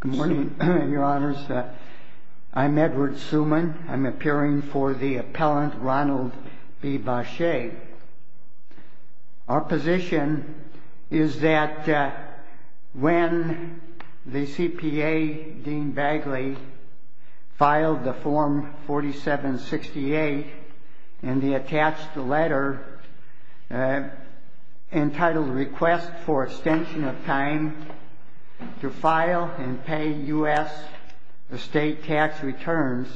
Good morning, your honors. I'm Edward Suman. I'm appearing for the appellant Ronald B. Baccei. Our position is that when the CPA, Dean Bagley, filed the form 4768 and he attached the letter entitled Request for Extension of Time to File and Pay U.S. Estate Tax Returns,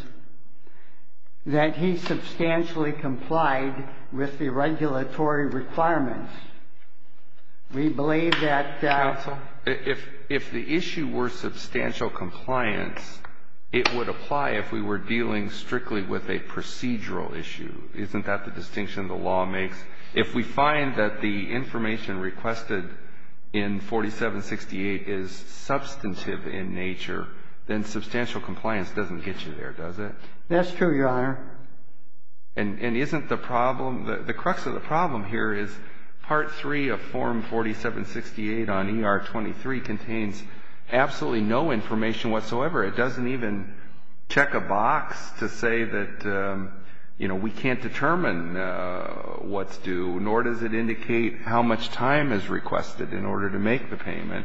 that he substantially complied with the regulatory requirements. We believe that... Counsel, if the issue were substantial compliance, it would apply if we were dealing strictly with a procedural issue. Isn't that the distinction the law makes? If we find that the information requested in 4768 is substantive in nature, then substantial compliance doesn't get you there, does it? That's true, your honor. And isn't the problem, the crux of the problem here is Part 3 of Form 4768 on ER 23 contains absolutely no information whatsoever. It doesn't even check a box to say that, you know, we can't determine what's due, nor does it indicate how much time is requested in order to make the payment.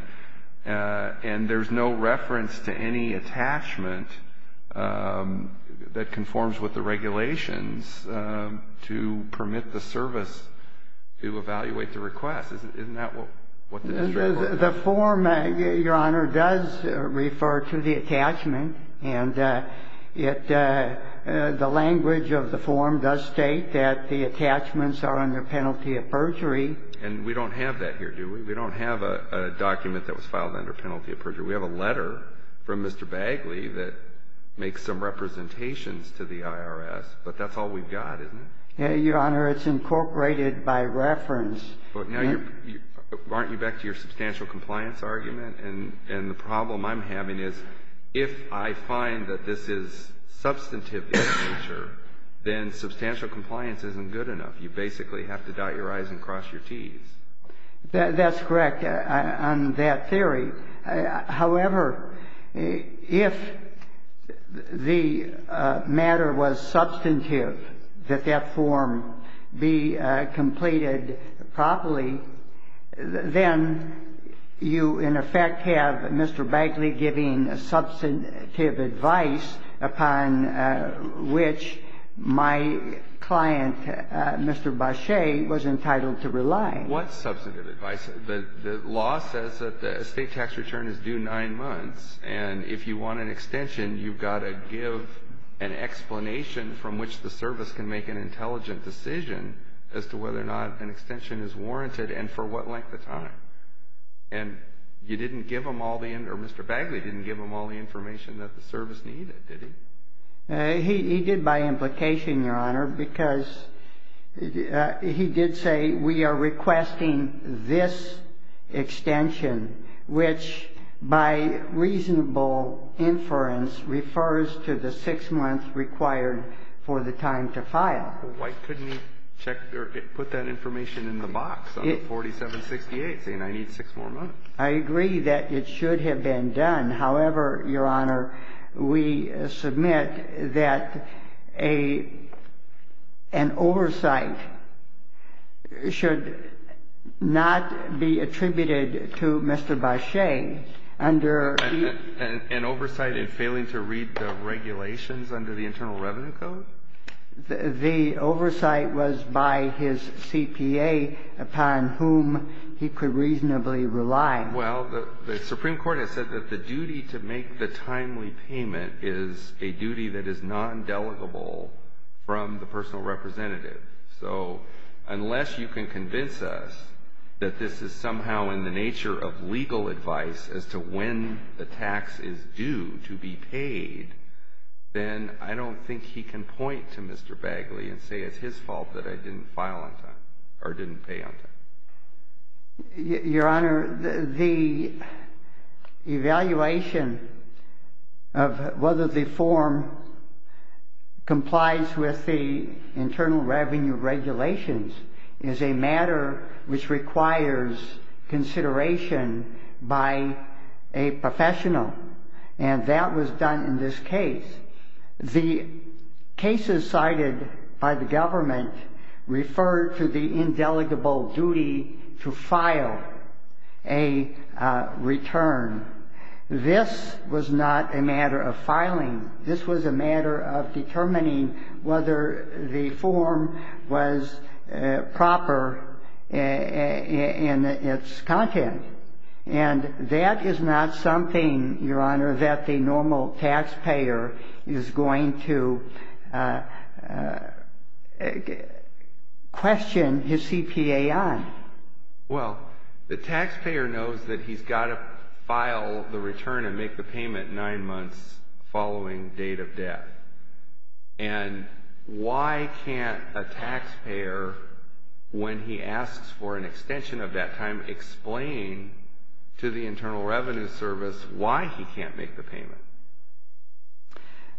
And there's no reference to any attachment that conforms with the regulations to permit the service to evaluate the request. Isn't that what the district... The form, your honor, does refer to the attachment, and the language of the form does state that the attachments are under penalty of perjury. And we don't have that here, do we? We don't have a document that was filed under penalty of perjury. We have a letter from Mr. Bagley that makes some representations to the IRS, but that's all we've got, isn't it? Your honor, it's incorporated by reference. But now you're, aren't you back to your substantial compliance argument? And the problem I'm having is if I find that this is substantive in nature, then substantial compliance isn't good enough. You basically have to dot your I's and cross your T's. That's correct on that theory. However, if the matter was substantive that that form be completed properly, then you, in effect, have Mr. Bagley giving substantive advice upon which my client, Mr. Bache, was entitled to rely. What substantive advice? The law says that the estate tax return is due nine months. And if you want an extension, you've got to give an explanation from which the service can make an intelligent decision as to whether or not an extension is warranted and for what length of time. And you didn't give them all the, or Mr. Bagley didn't give them all the information that the service needed, did he? He did by implication, Your Honor, because he did say we are requesting this extension, which by reasonable inference refers to the six months required for the time to file. Well, why couldn't he check or put that information in the box under 4768, saying I need six more months? I agree that it should have been done. However, Your Honor, we submit that an oversight should not be attributed to Mr. Bache under the ---- An oversight in failing to read the regulations under the Internal Revenue Code? The oversight was by his CPA upon whom he could reasonably rely. Well, the Supreme Court has said that the duty to make the timely payment is a duty that is non-delegable from the personal representative. So unless you can convince us that this is somehow in the nature of legal advice as to when the tax is due to be paid, then I don't think he can point to Mr. Bagley and say it's his fault that I didn't file on time or didn't pay on time. Your Honor, the evaluation of whether the form complies with the internal revenue regulations is a matter which requires consideration by a professional, and that was done in this case. The cases cited by the government referred to the indelible duty to file a return. This was not a matter of filing. This was a matter of determining whether the form was proper in its content. And that is not something, Your Honor, that the normal taxpayer is going to question his CPA on. Well, the taxpayer knows that he's got to file the return and make the payment nine months following date of death. And why can't a taxpayer, when he asks for an extension of that time, explain to the Internal Revenue Service why he can't make the payment?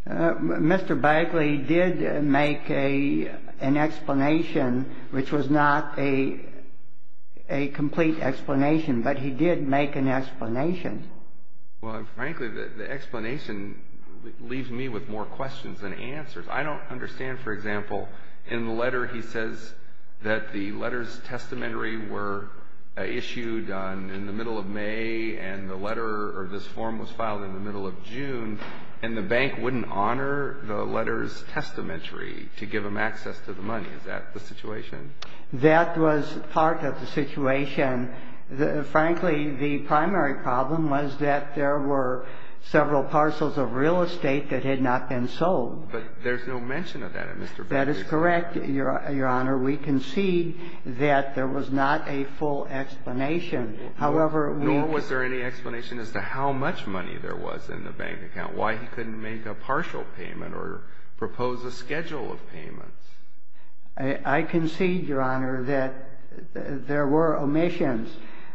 Mr. Bagley did make an explanation, which was not a complete explanation, but he did make an explanation. Well, frankly, the explanation leaves me with more questions than answers. I don't understand, for example, in the letter he says that the letters of testamentary were issued in the middle of May, and the letter of this form was filed in the middle of June, and the bank wouldn't honor the letters of testamentary to give them access to the money. Is that the situation? That was part of the situation. Frankly, the primary problem was that there were several parcels of real estate that had not been sold. But there's no mention of that in Mr. Bagley's letter. That is correct, Your Honor. We concede that there was not a full explanation. Nor was there any explanation as to how much money there was in the bank account, why he couldn't make a partial payment or propose a schedule of payments. I concede, Your Honor, that there were omissions.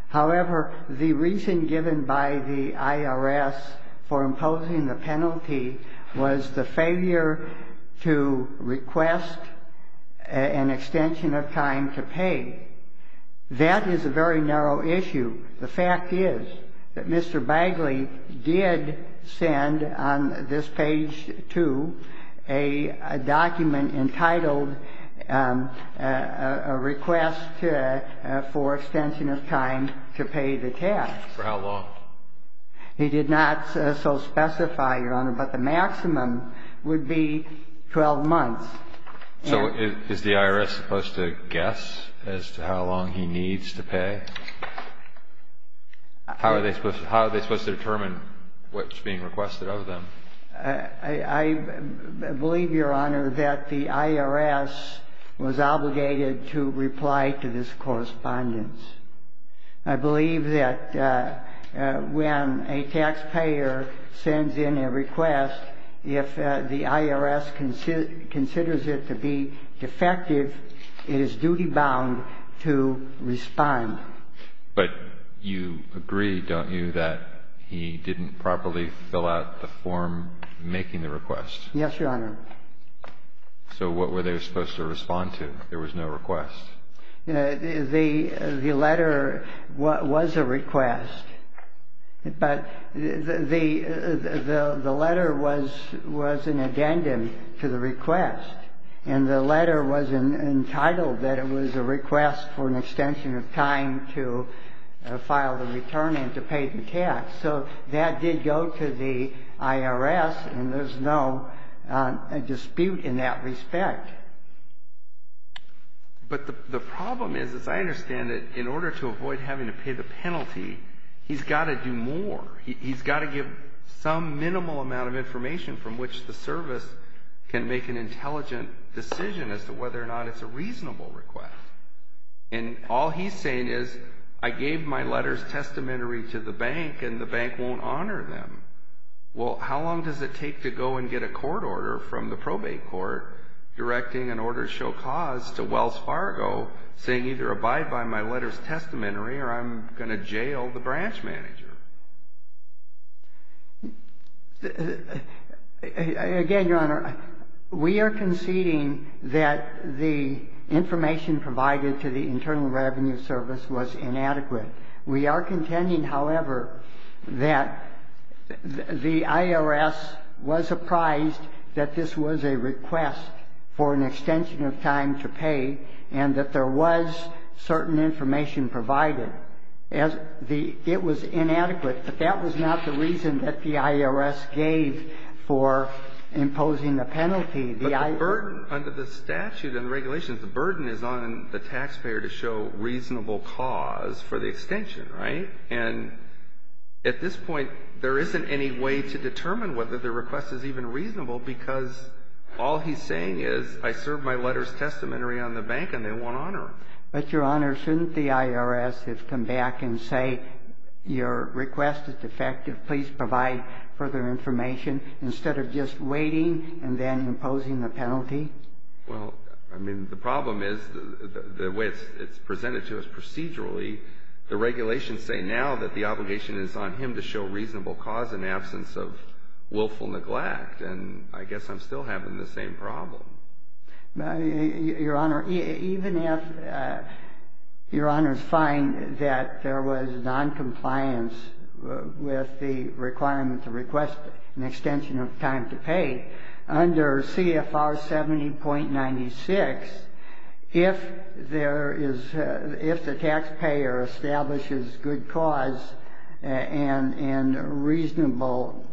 However, the reason given by the IRS for imposing the penalty was the failure to request an extension of time to pay. That is a very narrow issue. The fact is that Mr. Bagley did send on this page 2 a document entitled a request for extension of time to pay the tax. For how long? He did not so specify, Your Honor, but the maximum would be 12 months. So is the IRS supposed to guess as to how long he needs to pay? How are they supposed to determine what's being requested of them? I believe, Your Honor, that the IRS was obligated to reply to this correspondence. I believe that when a taxpayer sends in a request, if the IRS considers it to be defective, it is duty-bound to respond. But you agree, don't you, that he didn't properly fill out the form making the request? Yes, Your Honor. So what were they supposed to respond to? There was no request. The letter was a request, but the letter was an addendum to the request. And the letter was entitled that it was a request for an extension of time to file the return and to pay the tax. So that did go to the IRS, and there's no dispute in that respect. But the problem is, as I understand it, in order to avoid having to pay the penalty, he's got to do more. He's got to give some minimal amount of information from which the service can make an intelligent decision as to whether or not it's a reasonable request. And all he's saying is, I gave my letters testamentary to the bank, and the bank won't honor them. Well, how long does it take to go and get a court order from the probate court directing an order show cause to Wells Fargo, saying either abide by my letters testamentary or I'm going to jail the branch manager? Again, Your Honor, we are conceding that the information provided to the Internal Revenue Service was inadequate. We are contending, however, that the IRS was apprised that this was a request for an extension of time to pay, and that there was certain information provided. It was inadequate, but that was not the reason that the IRS gave for imposing the penalty. But the burden under the statute and regulations, the burden is on the taxpayer to show reasonable cause for the extension, right? And at this point, there isn't any way to determine whether the request is even reasonable, because all he's saying is, I served my letters testamentary on the bank, and they won't honor him. But, Your Honor, shouldn't the IRS have come back and say, your request is defective, please provide further information, instead of just waiting and then imposing the penalty? Well, I mean, the problem is, the way it's presented to us procedurally, the regulations say now that the obligation is on him to show reasonable cause in absence of willful neglect, and I guess I'm still having the same problem. Your Honor, even if Your Honors find that there was noncompliance with the requirement to request an extension of time to pay, under CFR 70.96, if the taxpayer establishes good cause and reasonable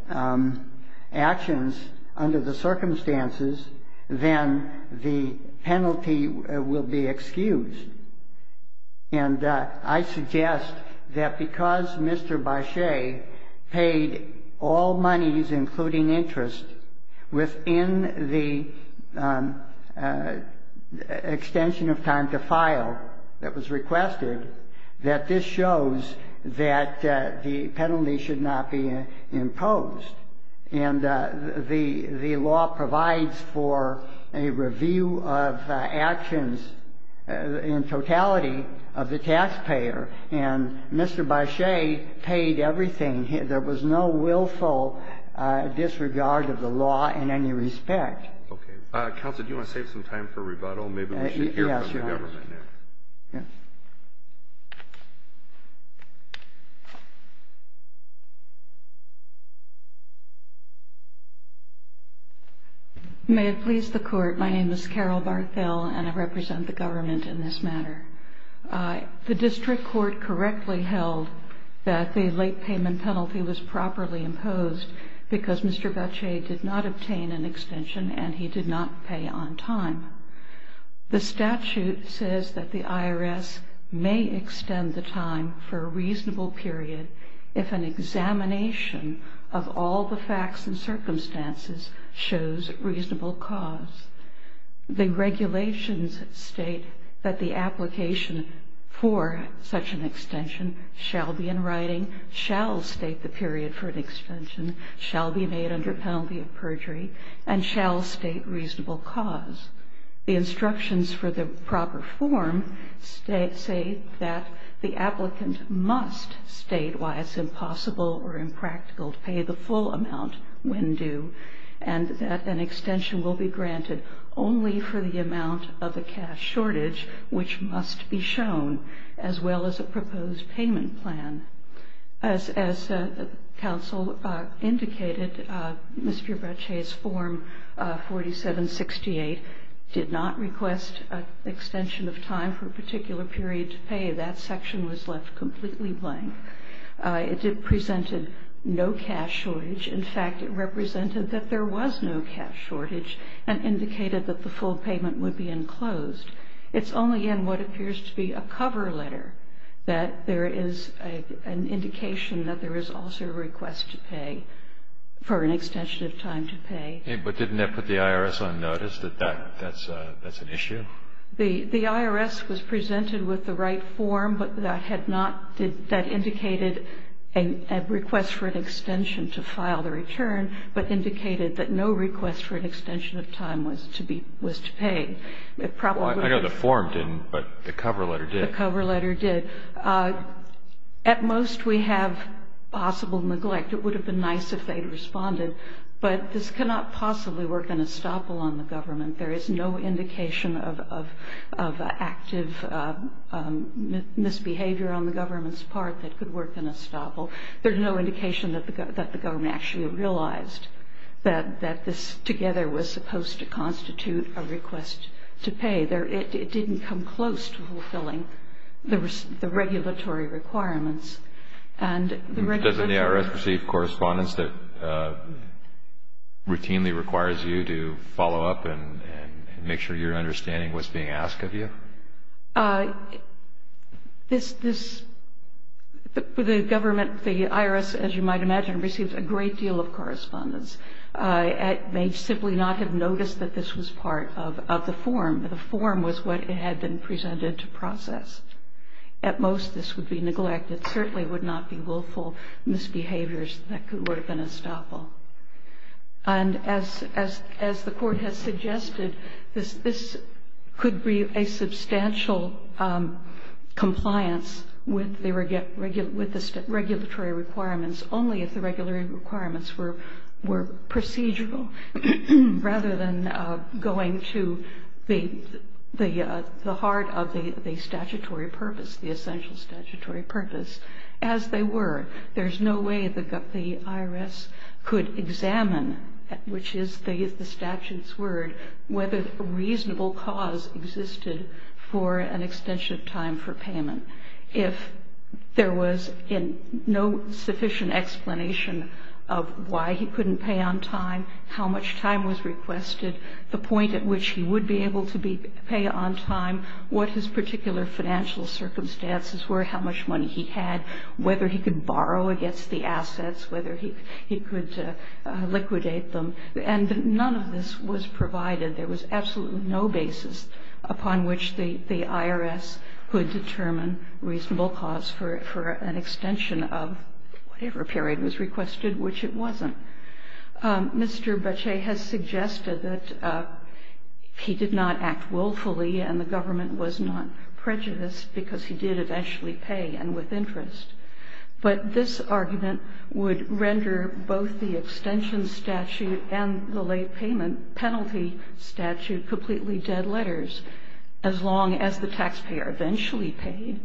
actions under the circumstances, then the penalty will be excused. And I suggest that because Mr. Barchet paid all monies, including interest, within the extension of time to file that was requested, that this shows that the penalty should not be imposed. And the law provides for a review of actions in totality of the taxpayer, and Mr. Barchet paid everything. There was no willful disregard of the law in any respect. Okay. Counsel, do you want to save some time for rebuttal? May it please the Court, my name is Carol Barthel, and I represent the government in this matter. The district court correctly held that the late payment penalty was properly imposed because Mr. Barchet did not obtain an extension and he did not pay on time. The statute says that the IRS may extend the time for a reasonable period if an examination of all the facts and circumstances shows reasonable cause. The regulations state that the application for such an extension shall be in writing, shall state the period for an extension, shall be made under penalty of perjury, and shall state reasonable cause. The instructions for the proper form say that the applicant must state why it's impossible or impractical to pay the full amount when due, and that an extension will be granted only for the amount of the cash shortage which must be shown, as well as a proposed payment plan. As counsel indicated, Mr. Barchet's form 4768 did not request an extension of time for a particular period to pay. That section was left completely blank. It presented no cash shortage. In fact, it represented that there was no cash shortage and indicated that the full payment would be enclosed. It's only in what appears to be a cover letter that there is an indication that there is also a request to pay, for an extension of time to pay. But didn't that put the IRS on notice that that's an issue? The IRS was presented with the right form, but that indicated a request for an extension to file the return, but indicated that no request for an extension of time was to pay. I know the form didn't, but the cover letter did. At most, we have possible neglect. It would have been nice if they'd responded. But this cannot possibly work in estoppel on the government. There is no indication of active misbehavior on the government's part that could work in estoppel. There's no indication that the government actually realized that this, together, was supposed to constitute a request to pay. It didn't come close to fulfilling the regulatory requirements. Doesn't the IRS receive correspondence that routinely requires you to follow up and make sure you're understanding what's being asked of you? The government, the IRS, as you might imagine, receives a great deal of correspondence. It may simply not have noticed that this was part of the form. The form was what had been presented to process. At most, this would be neglected, certainly would not be willful misbehaviors that could work in estoppel. And as the Court has suggested, this could be a substantial compliance with the regulatory requirements, only if the regulatory requirements were procedural, rather than going to the heart of the statutory purpose, the essential statutory purpose, as they were. There's no way that the IRS could examine, which is the statute's word, whether a reasonable cause existed for an extension of time for payment. If there was no sufficient explanation of why he couldn't pay on time, how much time was requested, the point at which he would be able to pay on time, what his particular financial circumstances were, how much money he had, whether he could borrow against the assets, whether he could liquidate them. And none of this was provided. There was absolutely no basis upon which the IRS could determine reasonable cause for an extension of whatever period was requested, which it wasn't. Mr. Bache has suggested that he did not act willfully and the government was not prejudiced because he did eventually pay and with interest. But this argument would render both the extension statute and the late payment penalty statute completely dead letters. As long as the taxpayer eventually paid,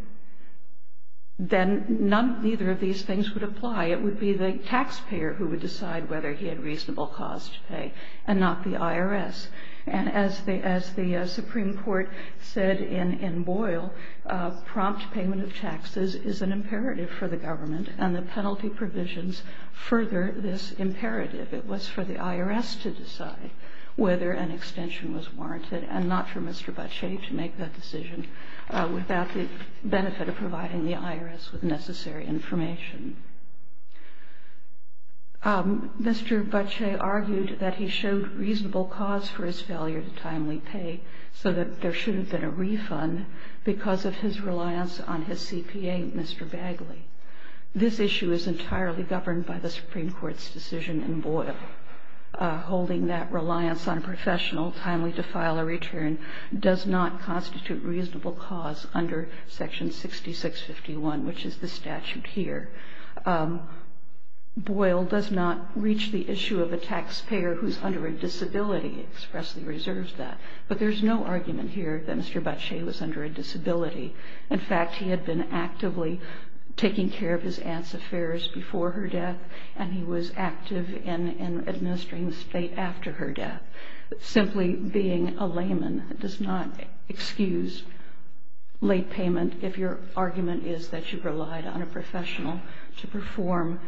then neither of these things would apply. It would be the taxpayer who would decide whether he had reasonable cause to pay, and not the IRS. And as the Supreme Court said in Boyle, prompt payment of taxes is an imperative for the government and the penalty provisions further this imperative. It was for the IRS to decide whether an extension was warranted and not for Mr. Bache to make that decision without the benefit of providing the IRS with necessary information. Mr. Bache argued that he showed reasonable cause for his failure to timely pay so that there shouldn't have been a refund because of his reliance on his CPA, Mr. Bagley. This issue is entirely governed by the Supreme Court's decision in Boyle. Holding that reliance on a professional timely to file a return does not constitute reasonable cause under section 6651, which is the statute here. Boyle does not reach the issue of a taxpayer who's under a disability, expressly reserves that. But there's no argument here that Mr. Bache was under a disability. In fact, he had been actively taking care of his aunt's affairs before her death, and he was active in administering the state after her death. Simply being a layman does not excuse late payment if your argument is that you relied on a professional to perform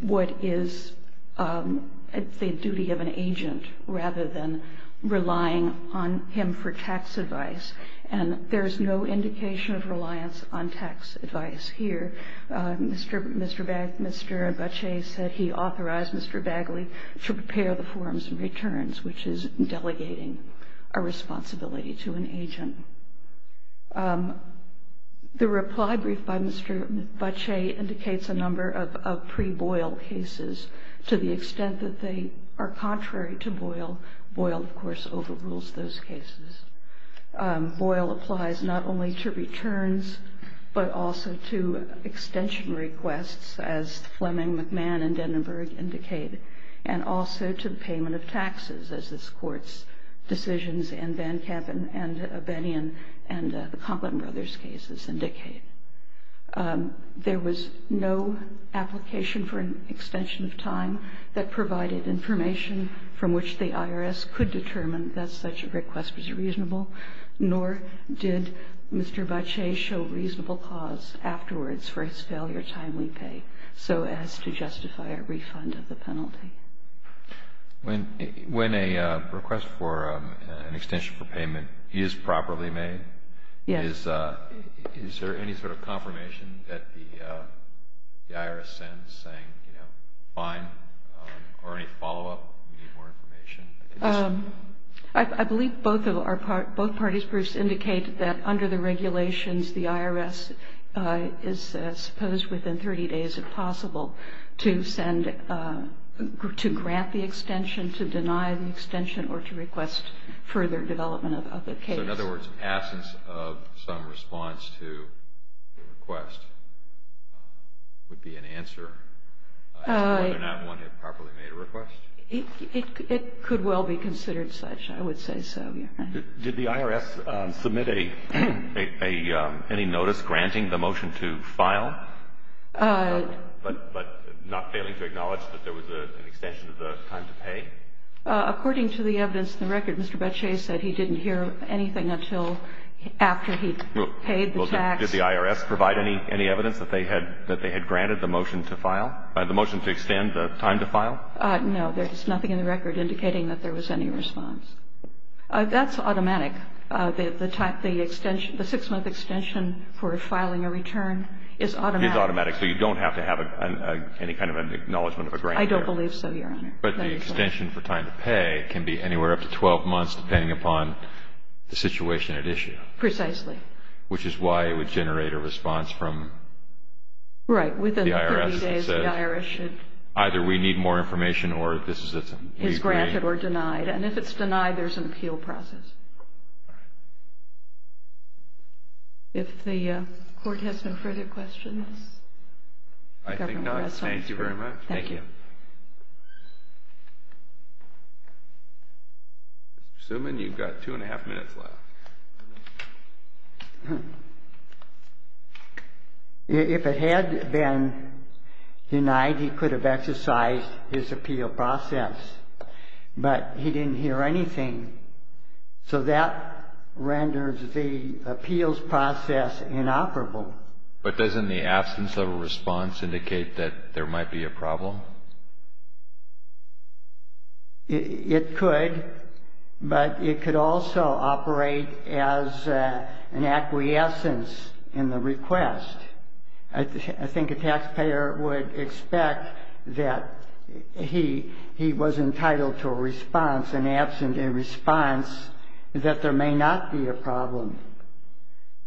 what is the duty of an agent, rather than relying on him for tax advice. And there's no indication of reliance on tax advice here. Mr. Bache said he authorized Mr. Bagley to prepare the forms and returns, which is delegating a responsibility to an agent. The reply brief by Mr. Bache indicates a number of pre-Boyle cases, to the extent that they are contrary to Boyle. Boyle, of course, overrules those cases. Boyle applies not only to returns, but also to extension requests, as Fleming, McMahon, and Denenberg indicate, and also to payment of taxes, as this Court's decisions in Van Kampen and Benion and the Conklin brothers' cases indicate. There was no application for an extension of time that provided information from which the IRS could determine that such a request was reasonable, nor did Mr. Bache show reasonable cause afterwards for his failure to timely pay, so as to justify a refund of the penalty. When a request for an extension for payment is properly made, is there any sort of confirmation that the IRS sends saying, you know, fine, or any follow-up, we need more information? I believe both parties' briefs indicate that under the regulations, the IRS is supposed, within 30 days if possible, to grant the extension, to deny the extension, or to request further development of the case. So, in other words, absence of some response to the request would be an answer as to whether or not one had properly made a request? It could well be considered such. I would say so, yes. Did the IRS submit any notice granting the motion to file, but not failing to acknowledge that there was an extension of the time to pay? According to the evidence in the record, Mr. Bache said he didn't hear anything until after he paid the tax. Did the IRS provide any evidence that they had granted the motion to file, the motion to extend the time to file? No. There's nothing in the record indicating that there was any response. That's automatic. The six-month extension for filing a return is automatic. It's automatic, so you don't have to have any kind of an acknowledgment of a grant here. I don't believe so, Your Honor. But the extension for time to pay can be anywhere up to 12 months, depending upon the situation at issue. Precisely. Which is why it would generate a response from the IRS. Right, within 30 days the IRS should... Either we need more information or this is a... Is granted or denied. And if it's denied, there's an appeal process. If the Court has no further questions? I think not. Thank you very much. Thank you. Mr. Suman, you've got two and a half minutes left. If it had been denied, he could have exercised his appeal process, but he didn't hear anything. So that renders the appeals process inoperable. But doesn't the absence of a response indicate that there might be a problem? It could, but it could also operate as an acquiescence in the request. I think a taxpayer would expect that he was entitled to a response and absent a response that there may not be a problem.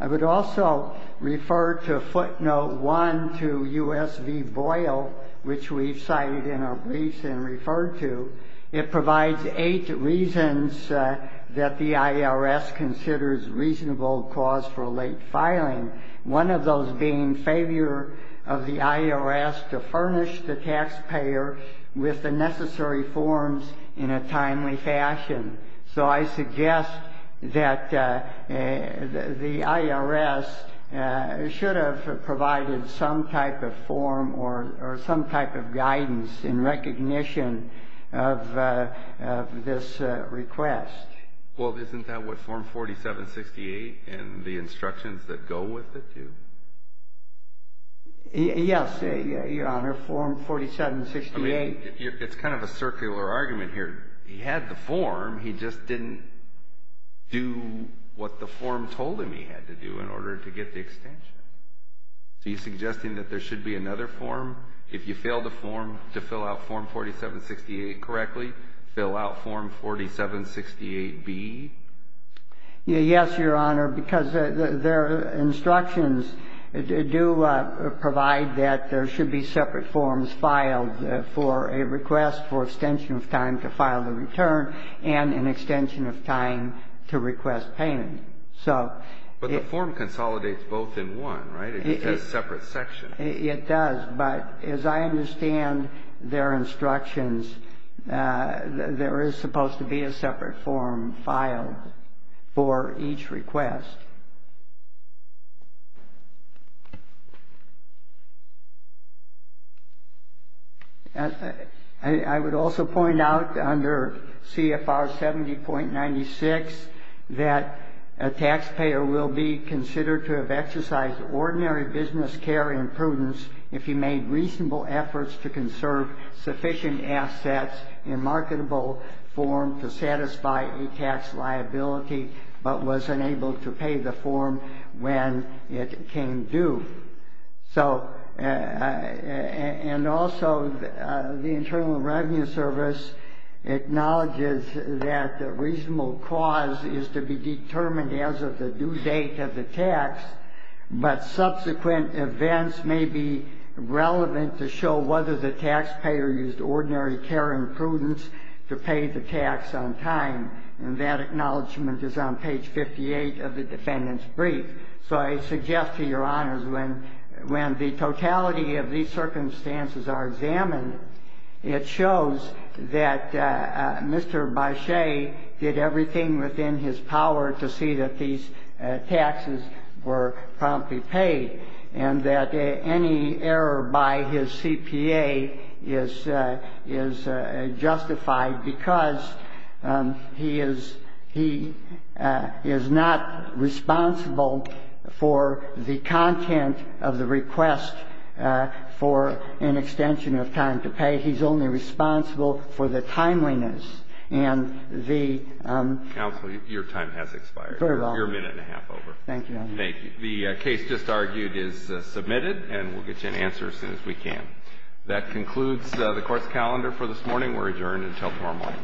I would also refer to footnote one to U.S. v. Boyle, which we've cited in our briefs and referred to. It provides eight reasons that the IRS considers reasonable cause for late filing, one of those being failure of the IRS to furnish the taxpayer with the necessary forms in a timely fashion. So I suggest that the IRS should have provided some type of form or some type of guidance in recognition of this request. Well, isn't that what Form 4768 and the instructions that go with it do? Yes, Your Honor, Form 4768. I mean, it's kind of a circular argument here. He had the form. He just didn't do what the form told him he had to do in order to get the extension. So you're suggesting that there should be another form? If you fail to fill out Form 4768 correctly, fill out Form 4768B? Yes, Your Honor, because their instructions do provide that there should be separate forms filed for a request for extension of time to file the return and an extension of time to request payment. But the form consolidates both in one, right? It has a separate section. It does. But as I understand their instructions, there is supposed to be a separate form filed for each request. I would also point out under CFR 70.96 that a taxpayer will be considered to have exercised ordinary business care and prudence if he made reasonable efforts to conserve sufficient assets in marketable form to satisfy a tax liability but was unable to pay the form when it came due. And also the Internal Revenue Service acknowledges that the reasonable cause is to be determined as of the due date of the tax, but subsequent events may be relevant to show whether the taxpayer used ordinary care and prudence to pay the tax on time. And that acknowledgment is on page 58 of the defendant's brief. So I suggest to Your Honors, when the totality of these circumstances are examined, it shows that Mr. Boschee did everything within his power to see that these taxes were promptly paid and that any error by his CPA is justified because he is not responsible for the content of the request for an extension of time to pay. He's only responsible for the timeliness and the ---- Counsel, your time has expired. Very well. You're a minute and a half over. Thank you, Your Honor. Thank you. The case just argued is submitted and we'll get you an answer as soon as we can. That concludes the Court's calendar for this morning. We're adjourned until tomorrow morning.